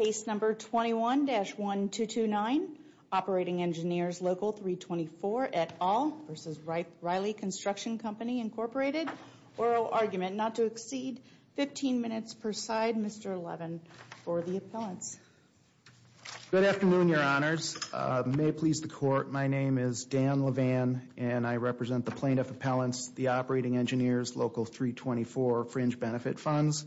Case number 21-1229, Operating Engineers Local 324 et al. v. Rieth-Riley Construction Company, Incorporated. Oral argument not to exceed 15 minutes per side. Mr. Levin for the appellants. Good afternoon, your honors. May it please the court, my name is Dan Levin and I represent the plaintiff appellants, the Operating Engineers Local 324 fringe benefit funds.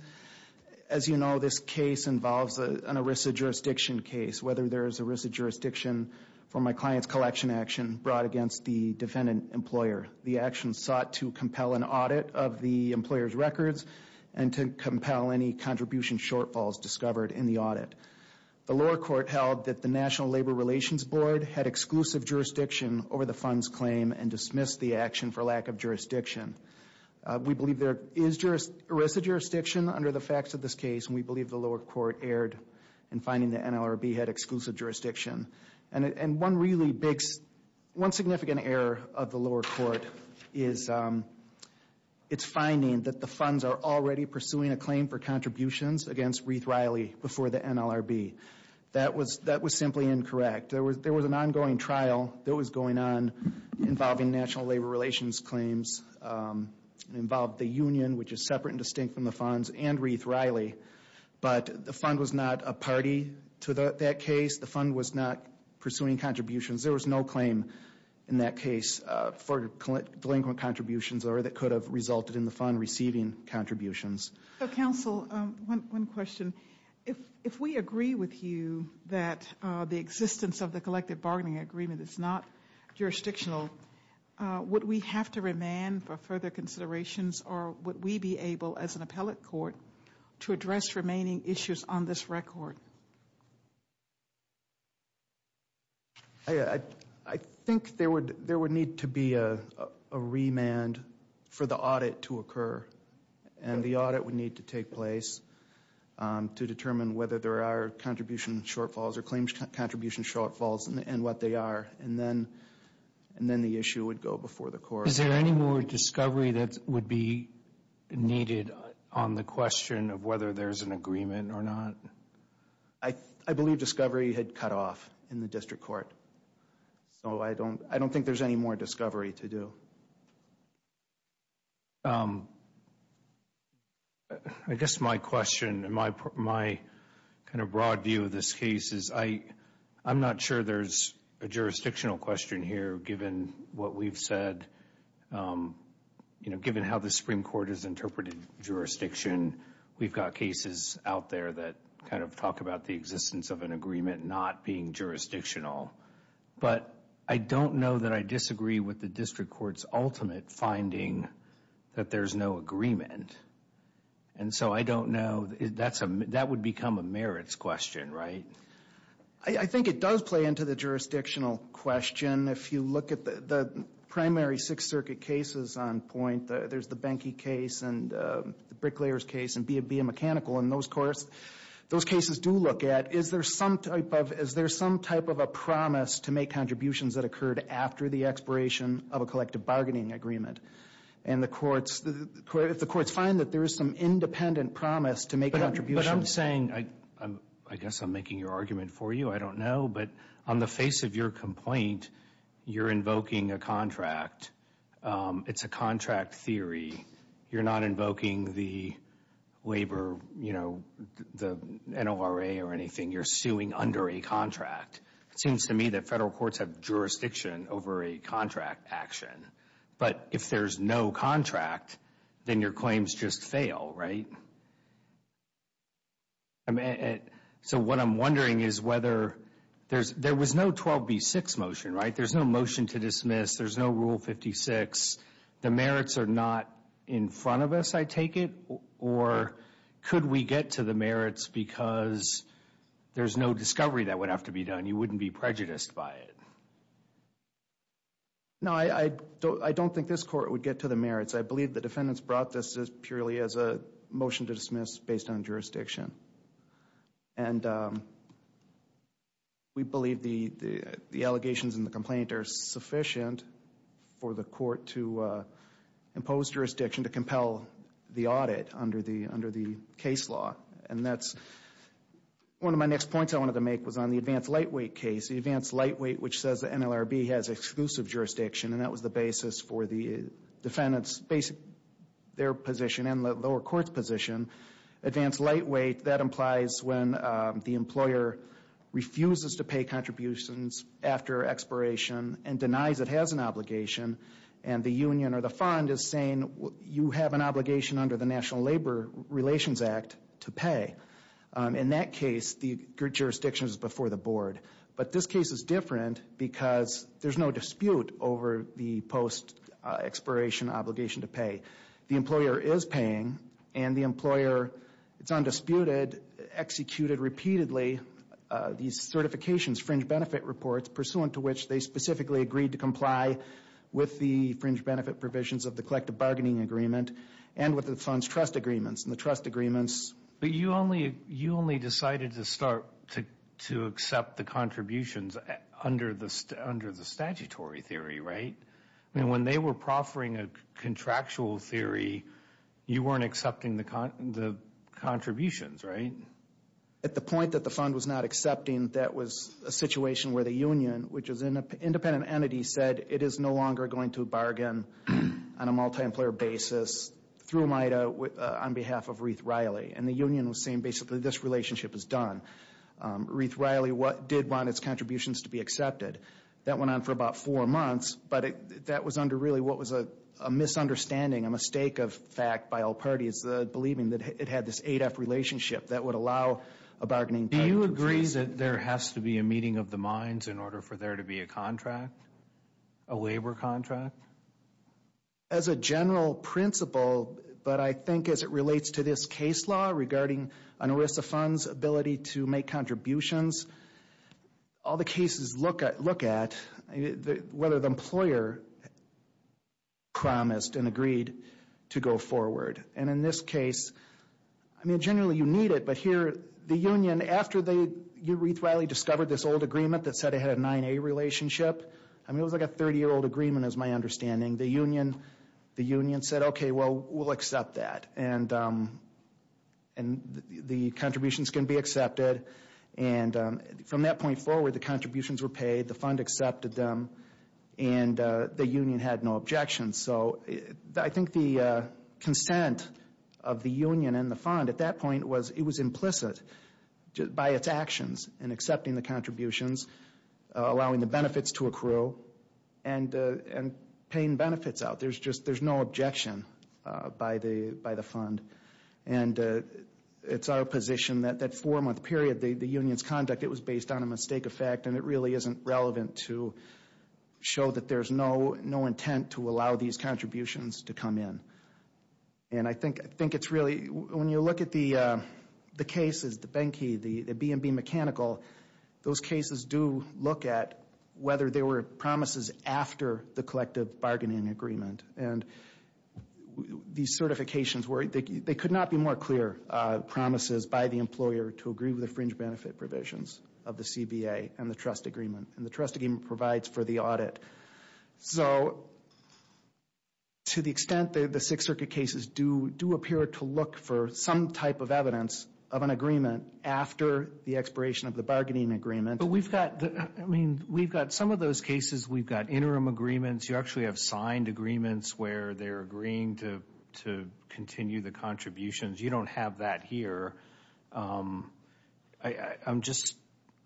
As you know, this case involves an ERISA jurisdiction case, whether there is ERISA jurisdiction for my client's collection action brought against the defendant employer. The action sought to compel an audit of the employer's records and to compel any contribution shortfalls discovered in the audit. The lower court held that the National Labor Relations Board had exclusive jurisdiction over the fund's claim and dismissed the action for lack of jurisdiction. We believe there is ERISA jurisdiction under the facts of this case and we believe the lower court erred in finding the NLRB had exclusive jurisdiction. And one really big, one significant error of the lower court is it's finding that the funds are already pursuing a claim for contributions against Rieth-Riley before the NLRB. That was simply incorrect. There was an ongoing trial that was going on involving National Labor Relations claims. It involved the union, which is separate and distinct from the funds, and Rieth-Riley, but the fund was not a party to that case. The fund was not pursuing contributions. There was no claim in that case for delinquent contributions or that could have resulted in the fund receiving contributions. So, counsel, one question. If we agree with you that the existence of the collective bargaining agreement is not jurisdictional, would we have to remand for further considerations or would we be able, as an appellate court, to address remaining issues on this record? I think there would need to be a remand for the audit to occur. And the audit would need to take place to determine whether there are contribution shortfalls or claims contribution shortfalls and what they are. And then the issue would go before the court. Is there any more discovery that would be needed on the question of whether there's an agreement or not? I believe discovery had cut off in the district court, so I don't think there's any more discovery to do. I guess my question and my kind of broad view of this case is I'm not sure there's a jurisdictional question here, given what we've said, you know, given how the Supreme Court has interpreted jurisdiction. We've got cases out there that kind of talk about the existence of an agreement not being jurisdictional. But I don't know that I disagree with the district court's ultimate finding that there's no agreement. And so I don't know. That would become a merits question, right? I think it does play into the jurisdictional question. If you look at the primary Sixth Circuit cases on point, there's the Benke case and the Bricklayer's case and BIA Mechanical. And those cases do look at, is there some type of a promise to make contributions that occurred after the expiration of a collective bargaining agreement? And if the courts find that there is some independent promise to make contributions. But I'm saying, I guess I'm making your argument for you. I don't know. But on the face of your complaint, you're invoking a contract. It's a contract theory. You're not invoking the labor, you know, the NORA or anything. You're suing under a contract. It seems to me that federal courts have jurisdiction over a contract action. But if there's no contract, then your claims just fail, right? So what I'm wondering is whether there was no 12B6 motion, right? There's no motion to dismiss. There's no Rule 56. The merits are not in front of us, I take it? Or could we get to the merits because there's no discovery that would have to be done? You wouldn't be prejudiced by it? No, I don't think this court would get to the merits. I believe the defendants brought this purely as a motion to dismiss based on jurisdiction. And we believe the allegations in the complaint are sufficient for the court to impose jurisdiction to compel the audit under the case law. And that's one of my next points I wanted to make was on the advanced lightweight case. The advanced lightweight, which says the NLRB has exclusive jurisdiction, and that was the basis for the defendants, their position and the lower court's position, advanced lightweight, that implies when the employer refuses to pay contributions after expiration and denies it has an obligation and the union or the fund is saying you have an obligation under the National Labor Relations Act to pay. In that case, the jurisdiction is before the board. But this case is different because there's no dispute over the post-expiration obligation to pay. The employer is paying, and the employer, it's undisputed, executed repeatedly these certifications, fringe benefit reports, pursuant to which they specifically agreed to comply with the fringe benefit provisions of the collective bargaining agreement and with the fund's trust agreements, and the trust agreements. But you only decided to start to accept the contributions under the statutory theory, right? I mean, when they were proffering a contractual theory, you weren't accepting the contributions, right? At the point that the fund was not accepting, that was a situation where the union, which is an independent entity, said it is no longer going to bargain on a multi-employer basis through MIDA on behalf of Ruth Riley. And the union was saying basically this relationship is done. Ruth Riley did want its contributions to be accepted. That went on for about four months, but that was under really what was a misunderstanding, a mistake of fact by all parties, believing that it had this ADEF relationship that would allow a bargaining party to proceed. Do you agree that there has to be a meeting of the minds in order for there to be a contract, a labor contract? As a general principle, but I think as it relates to this case law regarding an ERISA fund's ability to make contributions, all the cases look at whether the employer promised and agreed to go forward. And in this case, I mean, generally you need it, but here the union, after Ruth Riley discovered this old agreement that said it had a 9A relationship, I mean, it was like a 30-year-old agreement is my understanding, the union said, okay, well, we'll accept that, and the contributions can be accepted, and from that point forward, the contributions were paid, the fund accepted them, and the union had no objections. So I think the consent of the union and the fund at that point was it was implicit by its actions in accepting the contributions, allowing the benefits to accrue, and paying benefits out. There's just no objection by the fund. And it's our position that that four-month period, the union's conduct, it was based on a mistake of fact, and it really isn't relevant to show that there's no intent to allow these contributions to come in. And I think it's really, when you look at the cases, the Benkey, the B&B Mechanical, those cases do look at whether there were promises after the collective bargaining agreement. And these certifications were, they could not be more clear promises by the employer to agree with the fringe benefit provisions of the CBA and the trust agreement, and the trust agreement provides for the audit. So to the extent that the Sixth Circuit cases do appear to look for some type of evidence of an agreement after the expiration of the bargaining agreement. But we've got, I mean, we've got some of those cases, we've got interim agreements, you actually have signed agreements where they're agreeing to continue the contributions. You don't have that here. I'm just,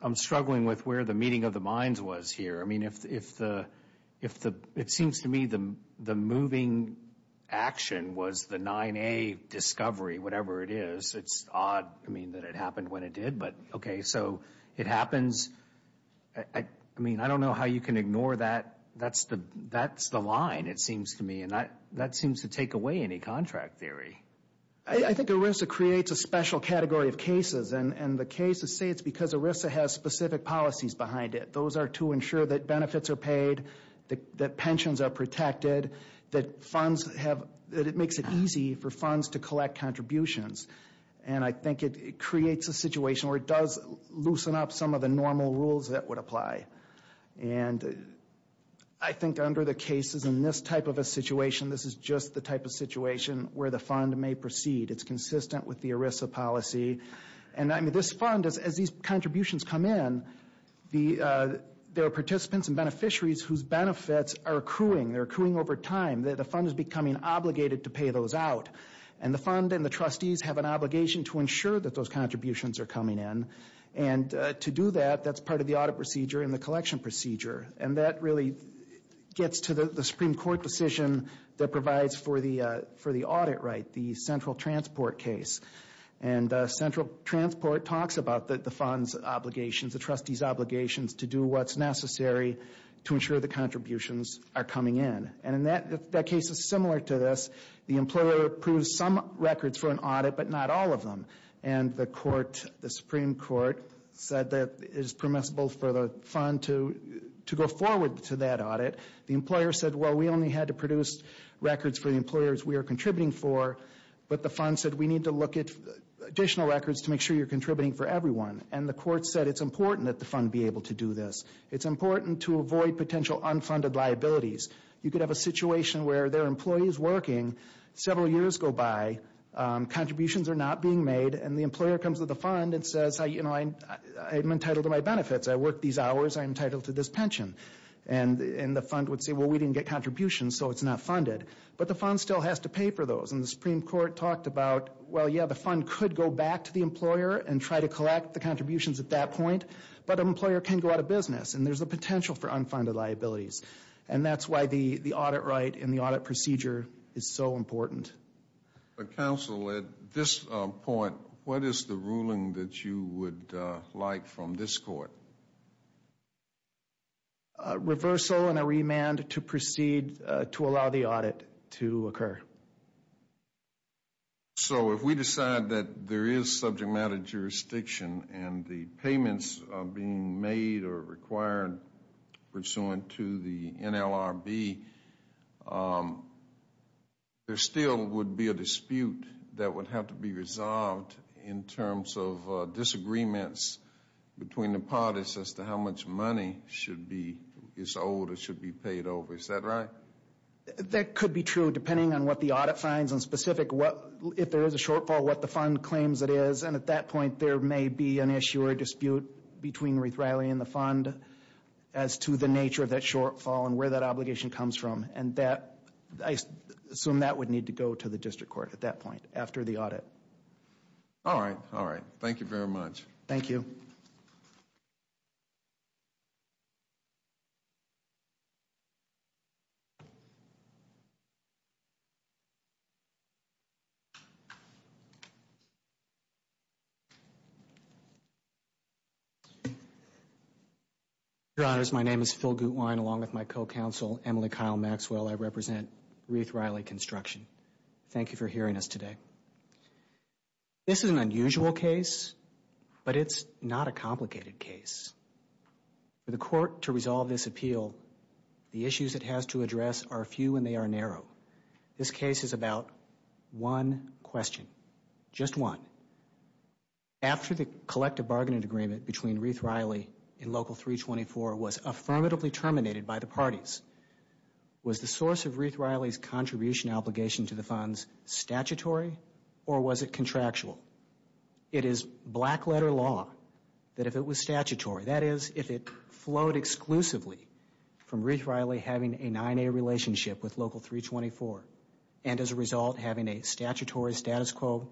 I'm struggling with where the meeting of the minds was here. I mean, if the, it seems to me the moving action was the 9A discovery, whatever it is. It's odd, I mean, that it happened when it did, but okay, so it happens. I mean, I don't know how you can ignore that. That's the line, it seems to me, and that seems to take away any contract theory. I think ERISA creates a special category of cases, and the cases say it's because ERISA has specific policies behind it. Those are to ensure that benefits are paid, that pensions are protected, that funds have, that it makes it easy for funds to collect contributions. And I think it creates a situation where it does loosen up some of the normal rules that would apply. And I think under the cases in this type of a situation, this is just the type of situation where the fund may proceed. It's consistent with the ERISA policy. And I mean, this fund, as these contributions come in, there are participants and beneficiaries whose benefits are accruing. They're accruing over time. The fund is becoming obligated to pay those out. And the fund and the trustees have an obligation to ensure that those contributions are coming in. And to do that, that's part of the audit procedure and the collection procedure. And that really gets to the Supreme Court decision that provides for the audit right, the central transport case. And central transport talks about the fund's obligations, the trustees' obligations to do what's necessary to ensure the contributions are coming in. And that case is similar to this. The employer approves some records for an audit, but not all of them. And the Supreme Court said that it is permissible for the fund to go forward to that audit. The employer said, well, we only had to produce records for the employers we are contributing for. But the fund said we need to look at additional records to make sure you're contributing for everyone. And the court said it's important that the fund be able to do this. It's important to avoid potential unfunded liabilities. You could have a situation where there are employees working, several years go by, contributions are not being made, and the employer comes to the fund and says, you know, I'm entitled to my benefits. I worked these hours. I'm entitled to this pension. And the fund would say, well, we didn't get contributions, so it's not funded. But the fund still has to pay for those. And the Supreme Court talked about, well, yeah, the fund could go back to the employer and try to collect the contributions at that point, but an employer can go out of business. And there's a potential for unfunded liabilities. And that's why the audit right and the audit procedure is so important. Counsel, at this point, what is the ruling that you would like from this court? Reversal and a remand to proceed to allow the audit to occur. So if we decide that there is subject matter jurisdiction and the payments are being made or required pursuant to the NLRB, there still would be a dispute that would have to be resolved in terms of disagreements between the parties as to how much money should be, is owed or should be paid over. Is that right? That could be true, depending on what the audit finds and specific what, if there is a shortfall, what the fund claims it is. And at that point, there may be an issue or dispute between Ruth Riley and the fund as to the nature of that shortfall and where that obligation comes from. And that, I assume that would need to go to the district court at that point after the audit. All right. All right. Thank you very much. Thank you. Your Honors, my name is Phil Gutwein, along with my co-counsel, Emily Kyle Maxwell. I represent Ruth Riley Construction. Thank you for hearing us today. This is an unusual case, but it's not a complicated case. For the court to resolve this appeal, the issues it has to address are few and they are narrow. This case is about one question, just one. After the collective bargaining agreement between Ruth Riley and Local 324 was affirmatively terminated by the parties, was the source of Ruth Riley's contribution obligation to the funds statutory or was it contractual? It is black-letter law that if it was statutory, that is, if it flowed exclusively from Ruth Riley having a 9A relationship with Local 324 and as a result having a statutory status quo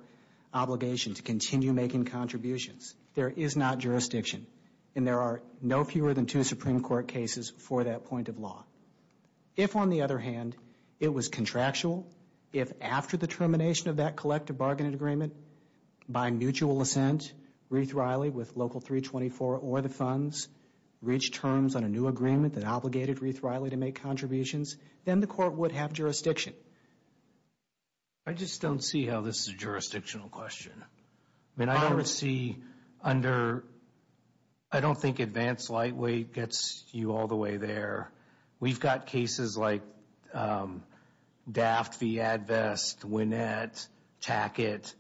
obligation to continue making contributions, there is not jurisdiction. And there are no fewer than two Supreme Court cases for that point of law. If, on the other hand, it was contractual, if after the termination of that collective bargaining agreement, by mutual assent, Ruth Riley with Local 324 or the funds reached terms on a new agreement that obligated Ruth Riley to make contributions, then the court would have jurisdiction. I just don't see how this is a jurisdictional question. I mean, I don't see under, I don't think advanced lightweight gets you all the way there. We've got cases like Daft v. Advest, Winnett, Tackett,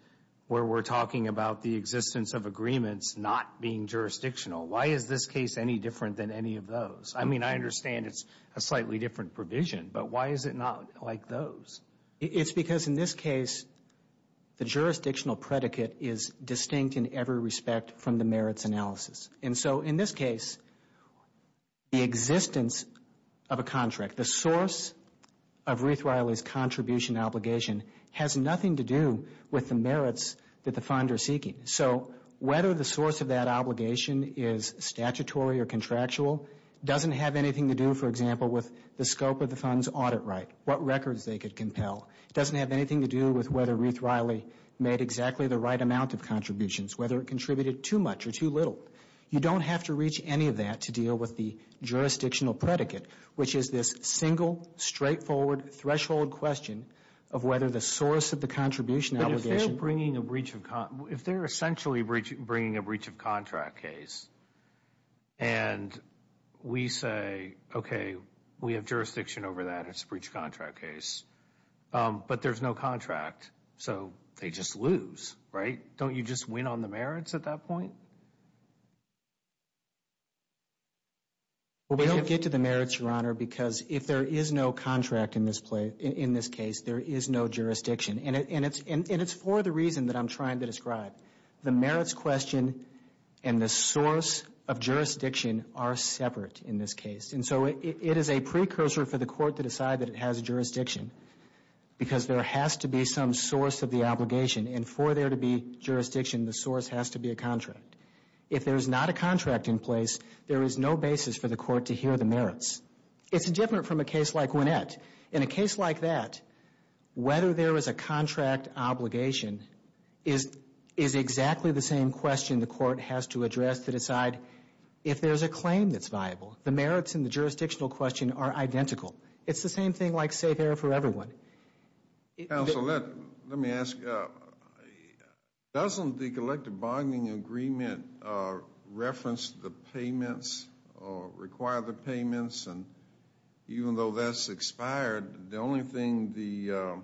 where we're talking about the existence of agreements not being jurisdictional. Why is this case any different than any of those? I mean, I understand it's a slightly different provision, but why is it not like those? It's because in this case, the jurisdictional predicate is distinct in every respect from the merits analysis. And so in this case, the existence of a contract, the source of Ruth Riley's contribution obligation, has nothing to do with the merits that the fund is seeking. So whether the source of that obligation is statutory or contractual doesn't have anything to do, for example, with the scope of the fund's audit right, what records they could compel. It doesn't have anything to do with whether Ruth Riley made exactly the right amount of contributions, whether it contributed too much or too little. You don't have to reach any of that to deal with the jurisdictional predicate, which is this single, straightforward, threshold question of whether the source of the contribution obligation... But if they're bringing a breach of, if they're essentially bringing a breach of contract case and we say, okay, we have jurisdiction over that, it's a breach of contract case, but there's no contract, so they just lose, right? Don't you just win on the merits at that point? Well, we don't get to the merits, Your Honor, because if there is no contract in this case, there is no jurisdiction. And it's for the reason that I'm trying to describe. The merits question and the source of jurisdiction are separate in this case. And so it is a precursor for the court to decide that it has jurisdiction because there has to be some source of the obligation, and for there to be jurisdiction, the source has to be a contract. If there's not a contract in place, there is no basis for the court to hear the merits. It's different from a case like Gwinnett. In a case like that, whether there is a contract obligation is exactly the same question the court has to address to decide if there's a claim that's viable. The merits in the jurisdictional question are identical. It's the same thing like safe air for everyone. Counsel, let me ask. Doesn't the collective bonding agreement reference the payments or require the payments? And even though that's expired, the only thing the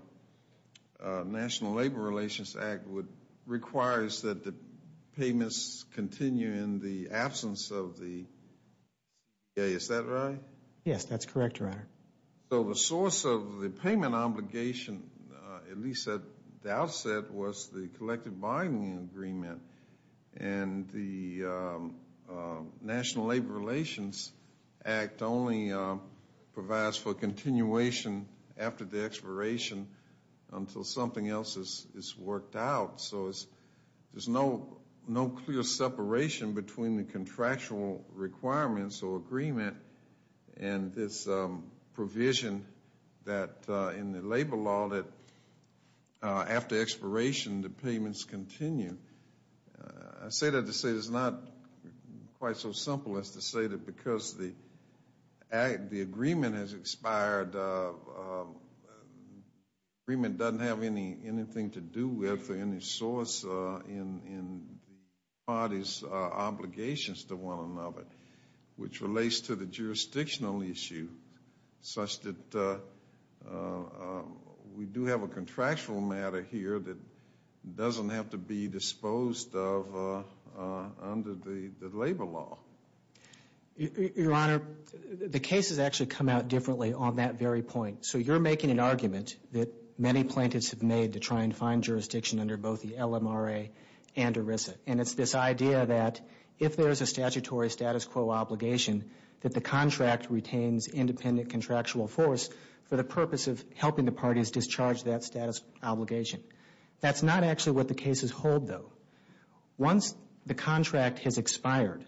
National Labor Relations Act would require is that the payments continue in the absence of the CDA. Is that right? Yes, that's correct, Your Honor. So the source of the payment obligation, at least at the outset, was the collective bonding agreement. And the National Labor Relations Act only provides for continuation after the expiration until something else is worked out. So there's no clear separation between the contractual requirements or agreement and this provision in the labor law that after expiration the payments continue. I say that to say it's not quite so simple as to say that because the agreement has expired, the agreement doesn't have anything to do with or any source in the parties' obligations to one another, which relates to the jurisdictional issue such that we do have a contractual matter here that doesn't have to be disposed of under the labor law. Your Honor, the cases actually come out differently on that very point. So you're making an argument that many plaintiffs have made to try and find jurisdiction under both the LMRA and ERISA. And it's this idea that if there is a statutory status quo obligation that the contract retains independent contractual force for the purpose of helping the parties discharge that status obligation. That's not actually what the cases hold, though. Once the contract has expired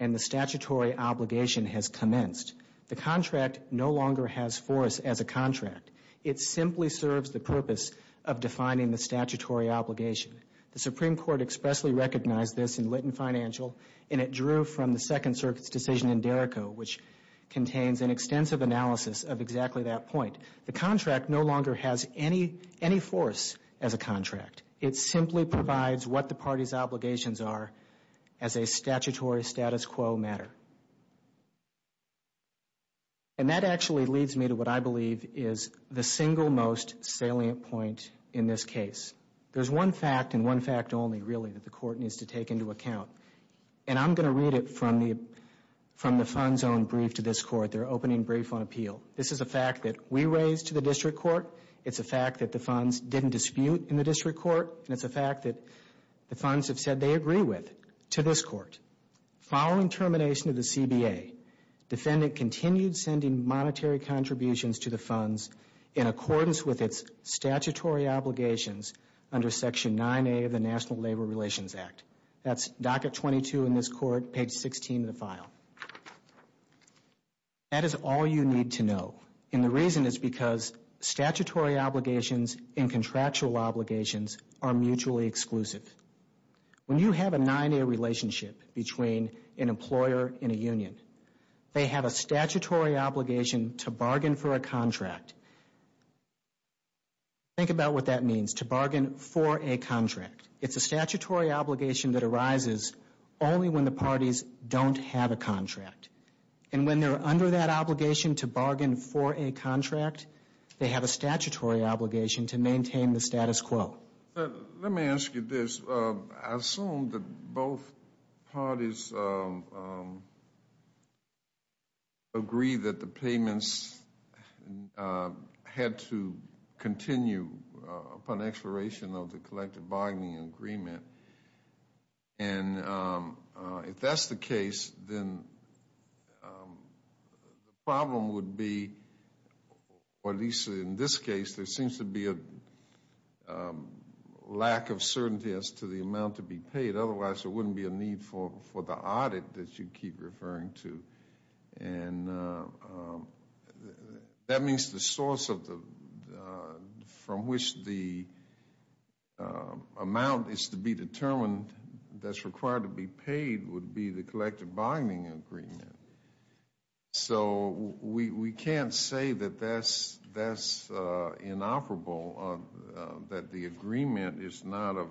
and the statutory obligation has commenced, the contract no longer has force as a contract. It simply serves the purpose of defining the statutory obligation. The Supreme Court expressly recognized this in Lytton Financial and it drew from the Second Circuit's decision in Derrico, which contains an extensive analysis of exactly that point. The contract no longer has any force as a contract. It simply provides what the parties' obligations are as a statutory status quo matter. And that actually leads me to what I believe is the single most salient point in this case. There's one fact and one fact only, really, that the Court needs to take into account. And I'm going to read it from the fund's own brief to this Court, their opening brief on appeal. This is a fact that we raised to the District Court. It's a fact that the funds didn't dispute in the District Court. And it's a fact that the funds have said they agree with to this Court. Following termination of the CBA, defendant continued sending monetary contributions to the funds in accordance with its statutory obligations under Section 9A of the National Labor Relations Act. That's docket 22 in this Court, page 16 in the file. That is all you need to know. And the reason is because statutory obligations and contractual obligations are mutually exclusive. When you have a 9A relationship between an employer and a union, they have a statutory obligation to bargain for a contract. Think about what that means, to bargain for a contract. It's a statutory obligation that arises only when the parties don't have a contract. And when they're under that obligation to bargain for a contract, they have a statutory obligation to maintain the status quo. Let me ask you this. I assume that both parties agree that the payments had to continue upon expiration of the collective bargaining agreement. And if that's the case, then the problem would be, or at least in this case, there seems to be a lack of certainty as to the amount to be paid. Otherwise, there wouldn't be a need for the audit that you keep referring to. And that means the source from which the amount is to be determined that's required to be paid would be the collective bargaining agreement. So we can't say that that's inoperable, that the agreement is not of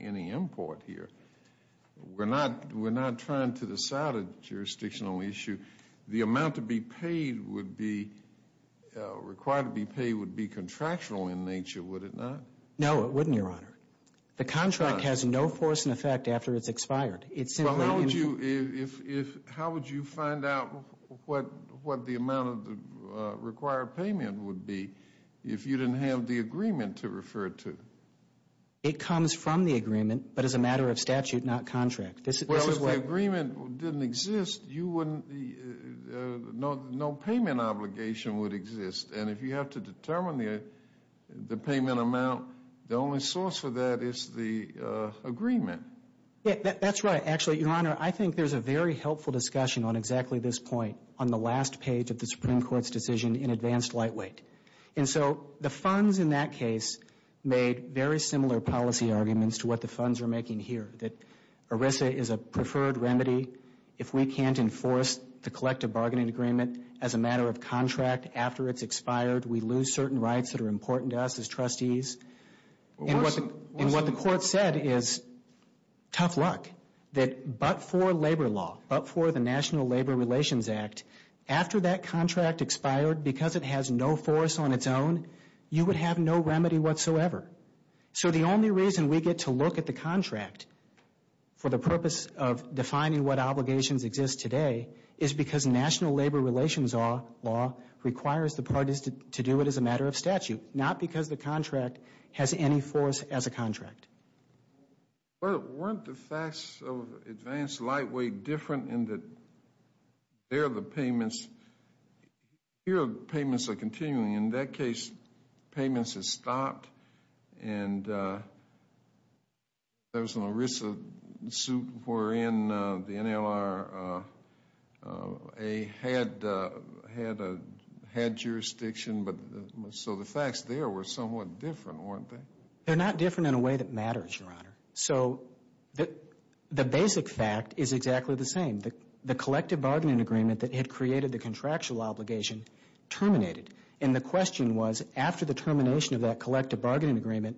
any import here. We're not trying to decide a jurisdictional issue. The amount required to be paid would be contractual in nature, would it not? No, it wouldn't, Your Honor. The contract has no force and effect after it's expired. How would you find out what the amount of the required payment would be if you didn't have the agreement to refer to? It comes from the agreement, but as a matter of statute, not contract. Well, if the agreement didn't exist, no payment obligation would exist. And if you have to determine the payment amount, the only source for that is the agreement. That's right, actually, Your Honor. I think there's a very helpful discussion on exactly this point on the last page of the Supreme Court's decision in advanced lightweight. And so the funds in that case made very similar policy arguments to what the funds are making here, that ERISA is a preferred remedy if we can't enforce the collective bargaining agreement as a matter of contract after it's expired, we lose certain rights that are important to us as trustees. And what the court said is, tough luck, that but for labor law, but for the National Labor Relations Act, after that contract expired, because it has no force on its own, you would have no remedy whatsoever. So the only reason we get to look at the contract for the purpose of defining what obligations exist today is because National Labor Relations law requires the parties to do it as a matter of statute, not because the contract has any force as a contract. Weren't the facts of advanced lightweight different in that there are the payments? Here, payments are continuing. In that case, payments have stopped, and there was an ERISA suit wherein the NLRA had jurisdiction, so the facts there were somewhat different, weren't they? They're not different in a way that matters, Your Honor. So the basic fact is exactly the same. The collective bargaining agreement that had created the contractual obligation terminated. And the question was, after the termination of that collective bargaining agreement,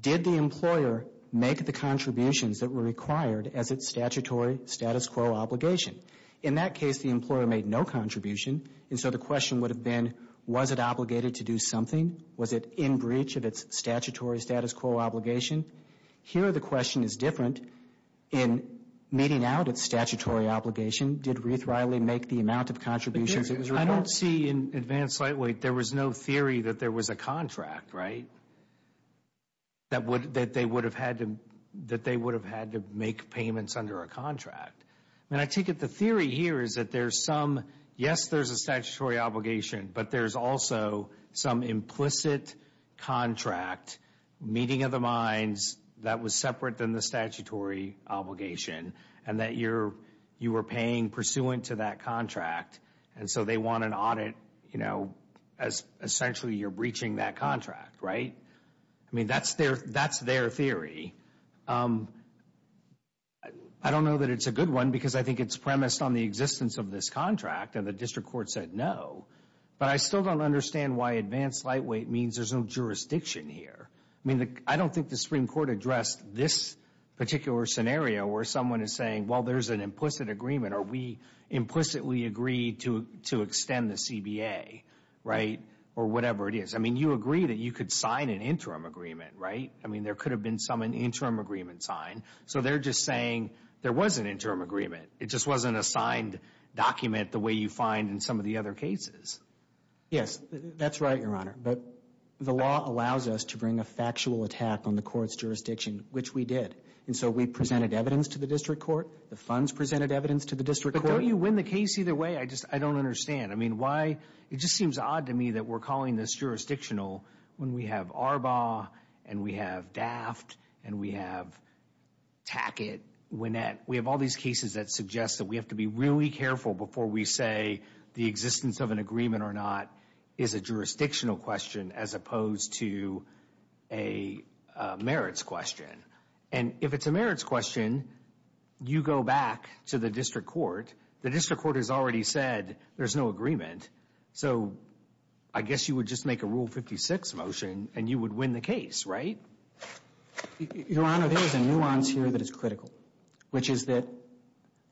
did the employer make the contributions that were required as its statutory status quo obligation? In that case, the employer made no contribution, and so the question would have been, was it obligated to do something? Was it in breach of its statutory status quo obligation? Here, the question is different. In meeting out its statutory obligation, did Ruth Riley make the amount of contributions that was required? I don't see in advanced lightweight, there was no theory that there was a contract, right? That they would have had to make payments under a contract. I mean, I take it the theory here is that there's some, yes, there's a statutory obligation, but there's also some implicit contract meeting of the minds that was separate than the statutory obligation and that you were paying pursuant to that contract, and so they want an audit, you know, as essentially you're breaching that contract, right? I mean, that's their theory. I don't know that it's a good one because I think it's premised on the existence of this contract, and the district court said no, but I still don't understand why advanced lightweight means there's no jurisdiction here. I mean, I don't think the Supreme Court addressed this particular scenario where someone is saying, well, there's an implicit agreement, or we implicitly agree to extend the CBA, right, or whatever it is. I mean, you agree that you could sign an interim agreement, right? I mean, there could have been some interim agreement signed, so they're just saying there was an interim agreement. It just wasn't a signed document the way you find in some of the other cases. Yes, that's right, Your Honor, but the law allows us to bring a factual attack on the court's jurisdiction, which we did, and so we presented evidence to the district court. The funds presented evidence to the district court. But don't you win the case either way? I just don't understand. I mean, why? It just seems odd to me that we're calling this jurisdictional when we have Arbaugh and we have Daft and we have Tackett, Winnett. We have all these cases that suggest that we have to be really careful before we say the existence of an agreement or not is a jurisdictional question as opposed to a merits question. And if it's a merits question, you go back to the district court. The district court has already said there's no agreement, so I guess you would just make a Rule 56 motion and you would win the case, right? Your Honor, there is a nuance here that is critical, which is that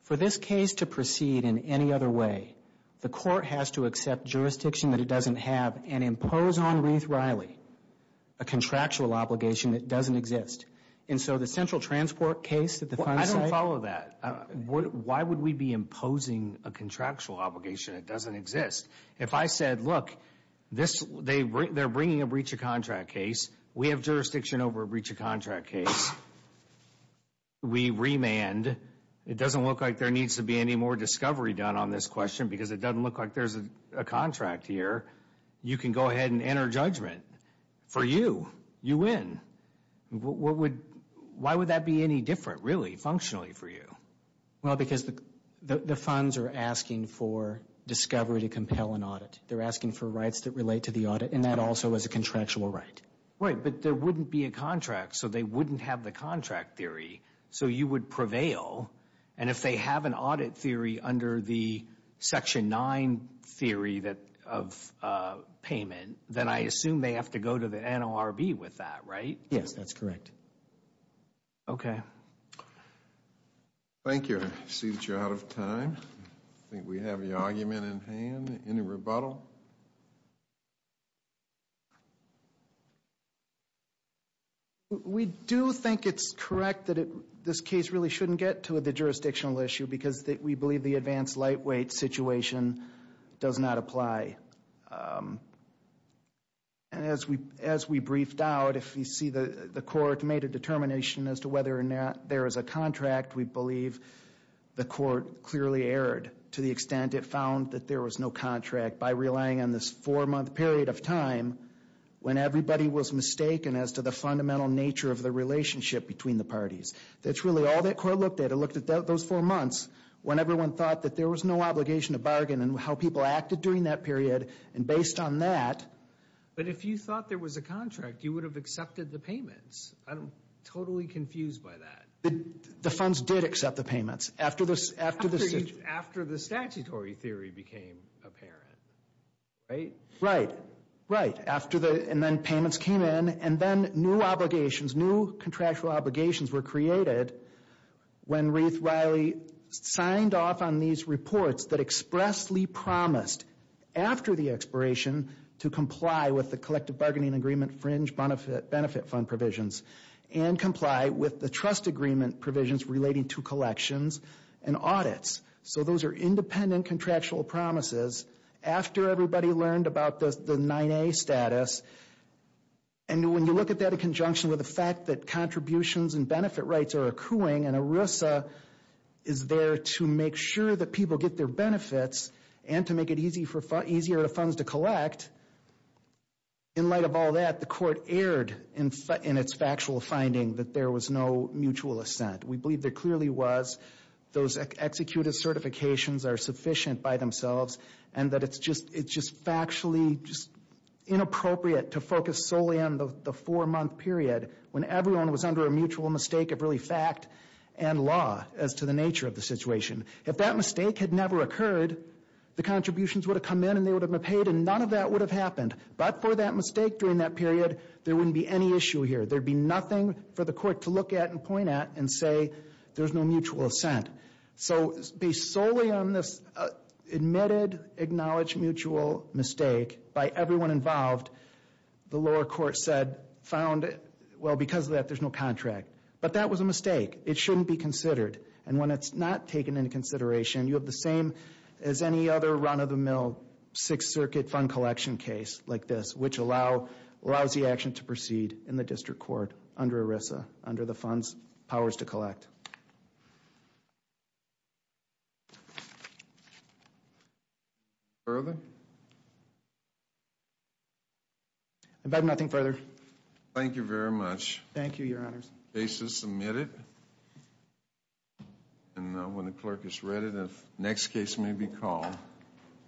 for this case to proceed in any other way, the court has to accept jurisdiction that it doesn't have and impose on Ruth Riley a contractual obligation that doesn't exist. And so the central transport case that the funds cite – I don't follow that. Why would we be imposing a contractual obligation that doesn't exist? If I said, look, they're bringing a breach of contract case. We have jurisdiction over a breach of contract case. We remand. It doesn't look like there needs to be any more discovery done on this question because it doesn't look like there's a contract here. You can go ahead and enter judgment. For you, you win. Why would that be any different, really, functionally for you? Well, because the funds are asking for discovery to compel an audit. They're asking for rights that relate to the audit, and that also is a contractual right. Right, but there wouldn't be a contract, so they wouldn't have the contract theory, so you would prevail. And if they have an audit theory under the Section 9 theory of payment, then I assume they have to go to the NORB with that, right? Yes, that's correct. Okay. Thank you. I see that you're out of time. I think we have your argument in hand. Any rebuttal? No. We do think it's correct that this case really shouldn't get to the jurisdictional issue because we believe the advanced lightweight situation does not apply. As we briefed out, if you see the court made a determination as to whether or not there is a contract, we believe the court clearly erred to the extent it found that there was no contract by relying on this four-month period of time when everybody was mistaken as to the fundamental nature of the relationship between the parties. That's really all that court looked at. It looked at those four months when everyone thought that there was no obligation to bargain and how people acted during that period, and based on that. But if you thought there was a contract, you would have accepted the payments. I'm totally confused by that. The funds did accept the payments. After the statutory theory became apparent, right? Right. And then payments came in, and then new obligations, new contractual obligations were created when Ruth Riley signed off on these reports that expressly promised after the expiration to comply with the collective bargaining agreement fringe benefit fund provisions and comply with the trust agreement provisions relating to collections and audits. So those are independent contractual promises after everybody learned about the 9A status. And when you look at that in conjunction with the fact that contributions and benefit rights are accruing and ERISA is there to make sure that people get their benefits and to make it easier for funds to collect, in light of all that, the court erred in its factual finding that there was no mutual assent. We believe there clearly was. Those executed certifications are sufficient by themselves, and that it's just factually inappropriate to focus solely on the four-month period when everyone was under a mutual mistake of really fact and law as to the nature of the situation. If that mistake had never occurred, the contributions would have come in and they would have been paid, and none of that would have happened. But for that mistake during that period, there wouldn't be any issue here. There'd be nothing for the court to look at and point at and say there's no mutual assent. So based solely on this admitted acknowledged mutual mistake by everyone involved, the lower court said, found, well, because of that, there's no contract. But that was a mistake. It shouldn't be considered. And when it's not taken into consideration, you have the same as any other run-of-the-mill Sixth Circuit fund collection case like this, which allows the action to proceed in the district court under ERISA, under the Funds Powers to Collect. Further? I have nothing further. Thank you very much. Thank you, Your Honors. The case is submitted. And when the clerk has read it, the next case may be called.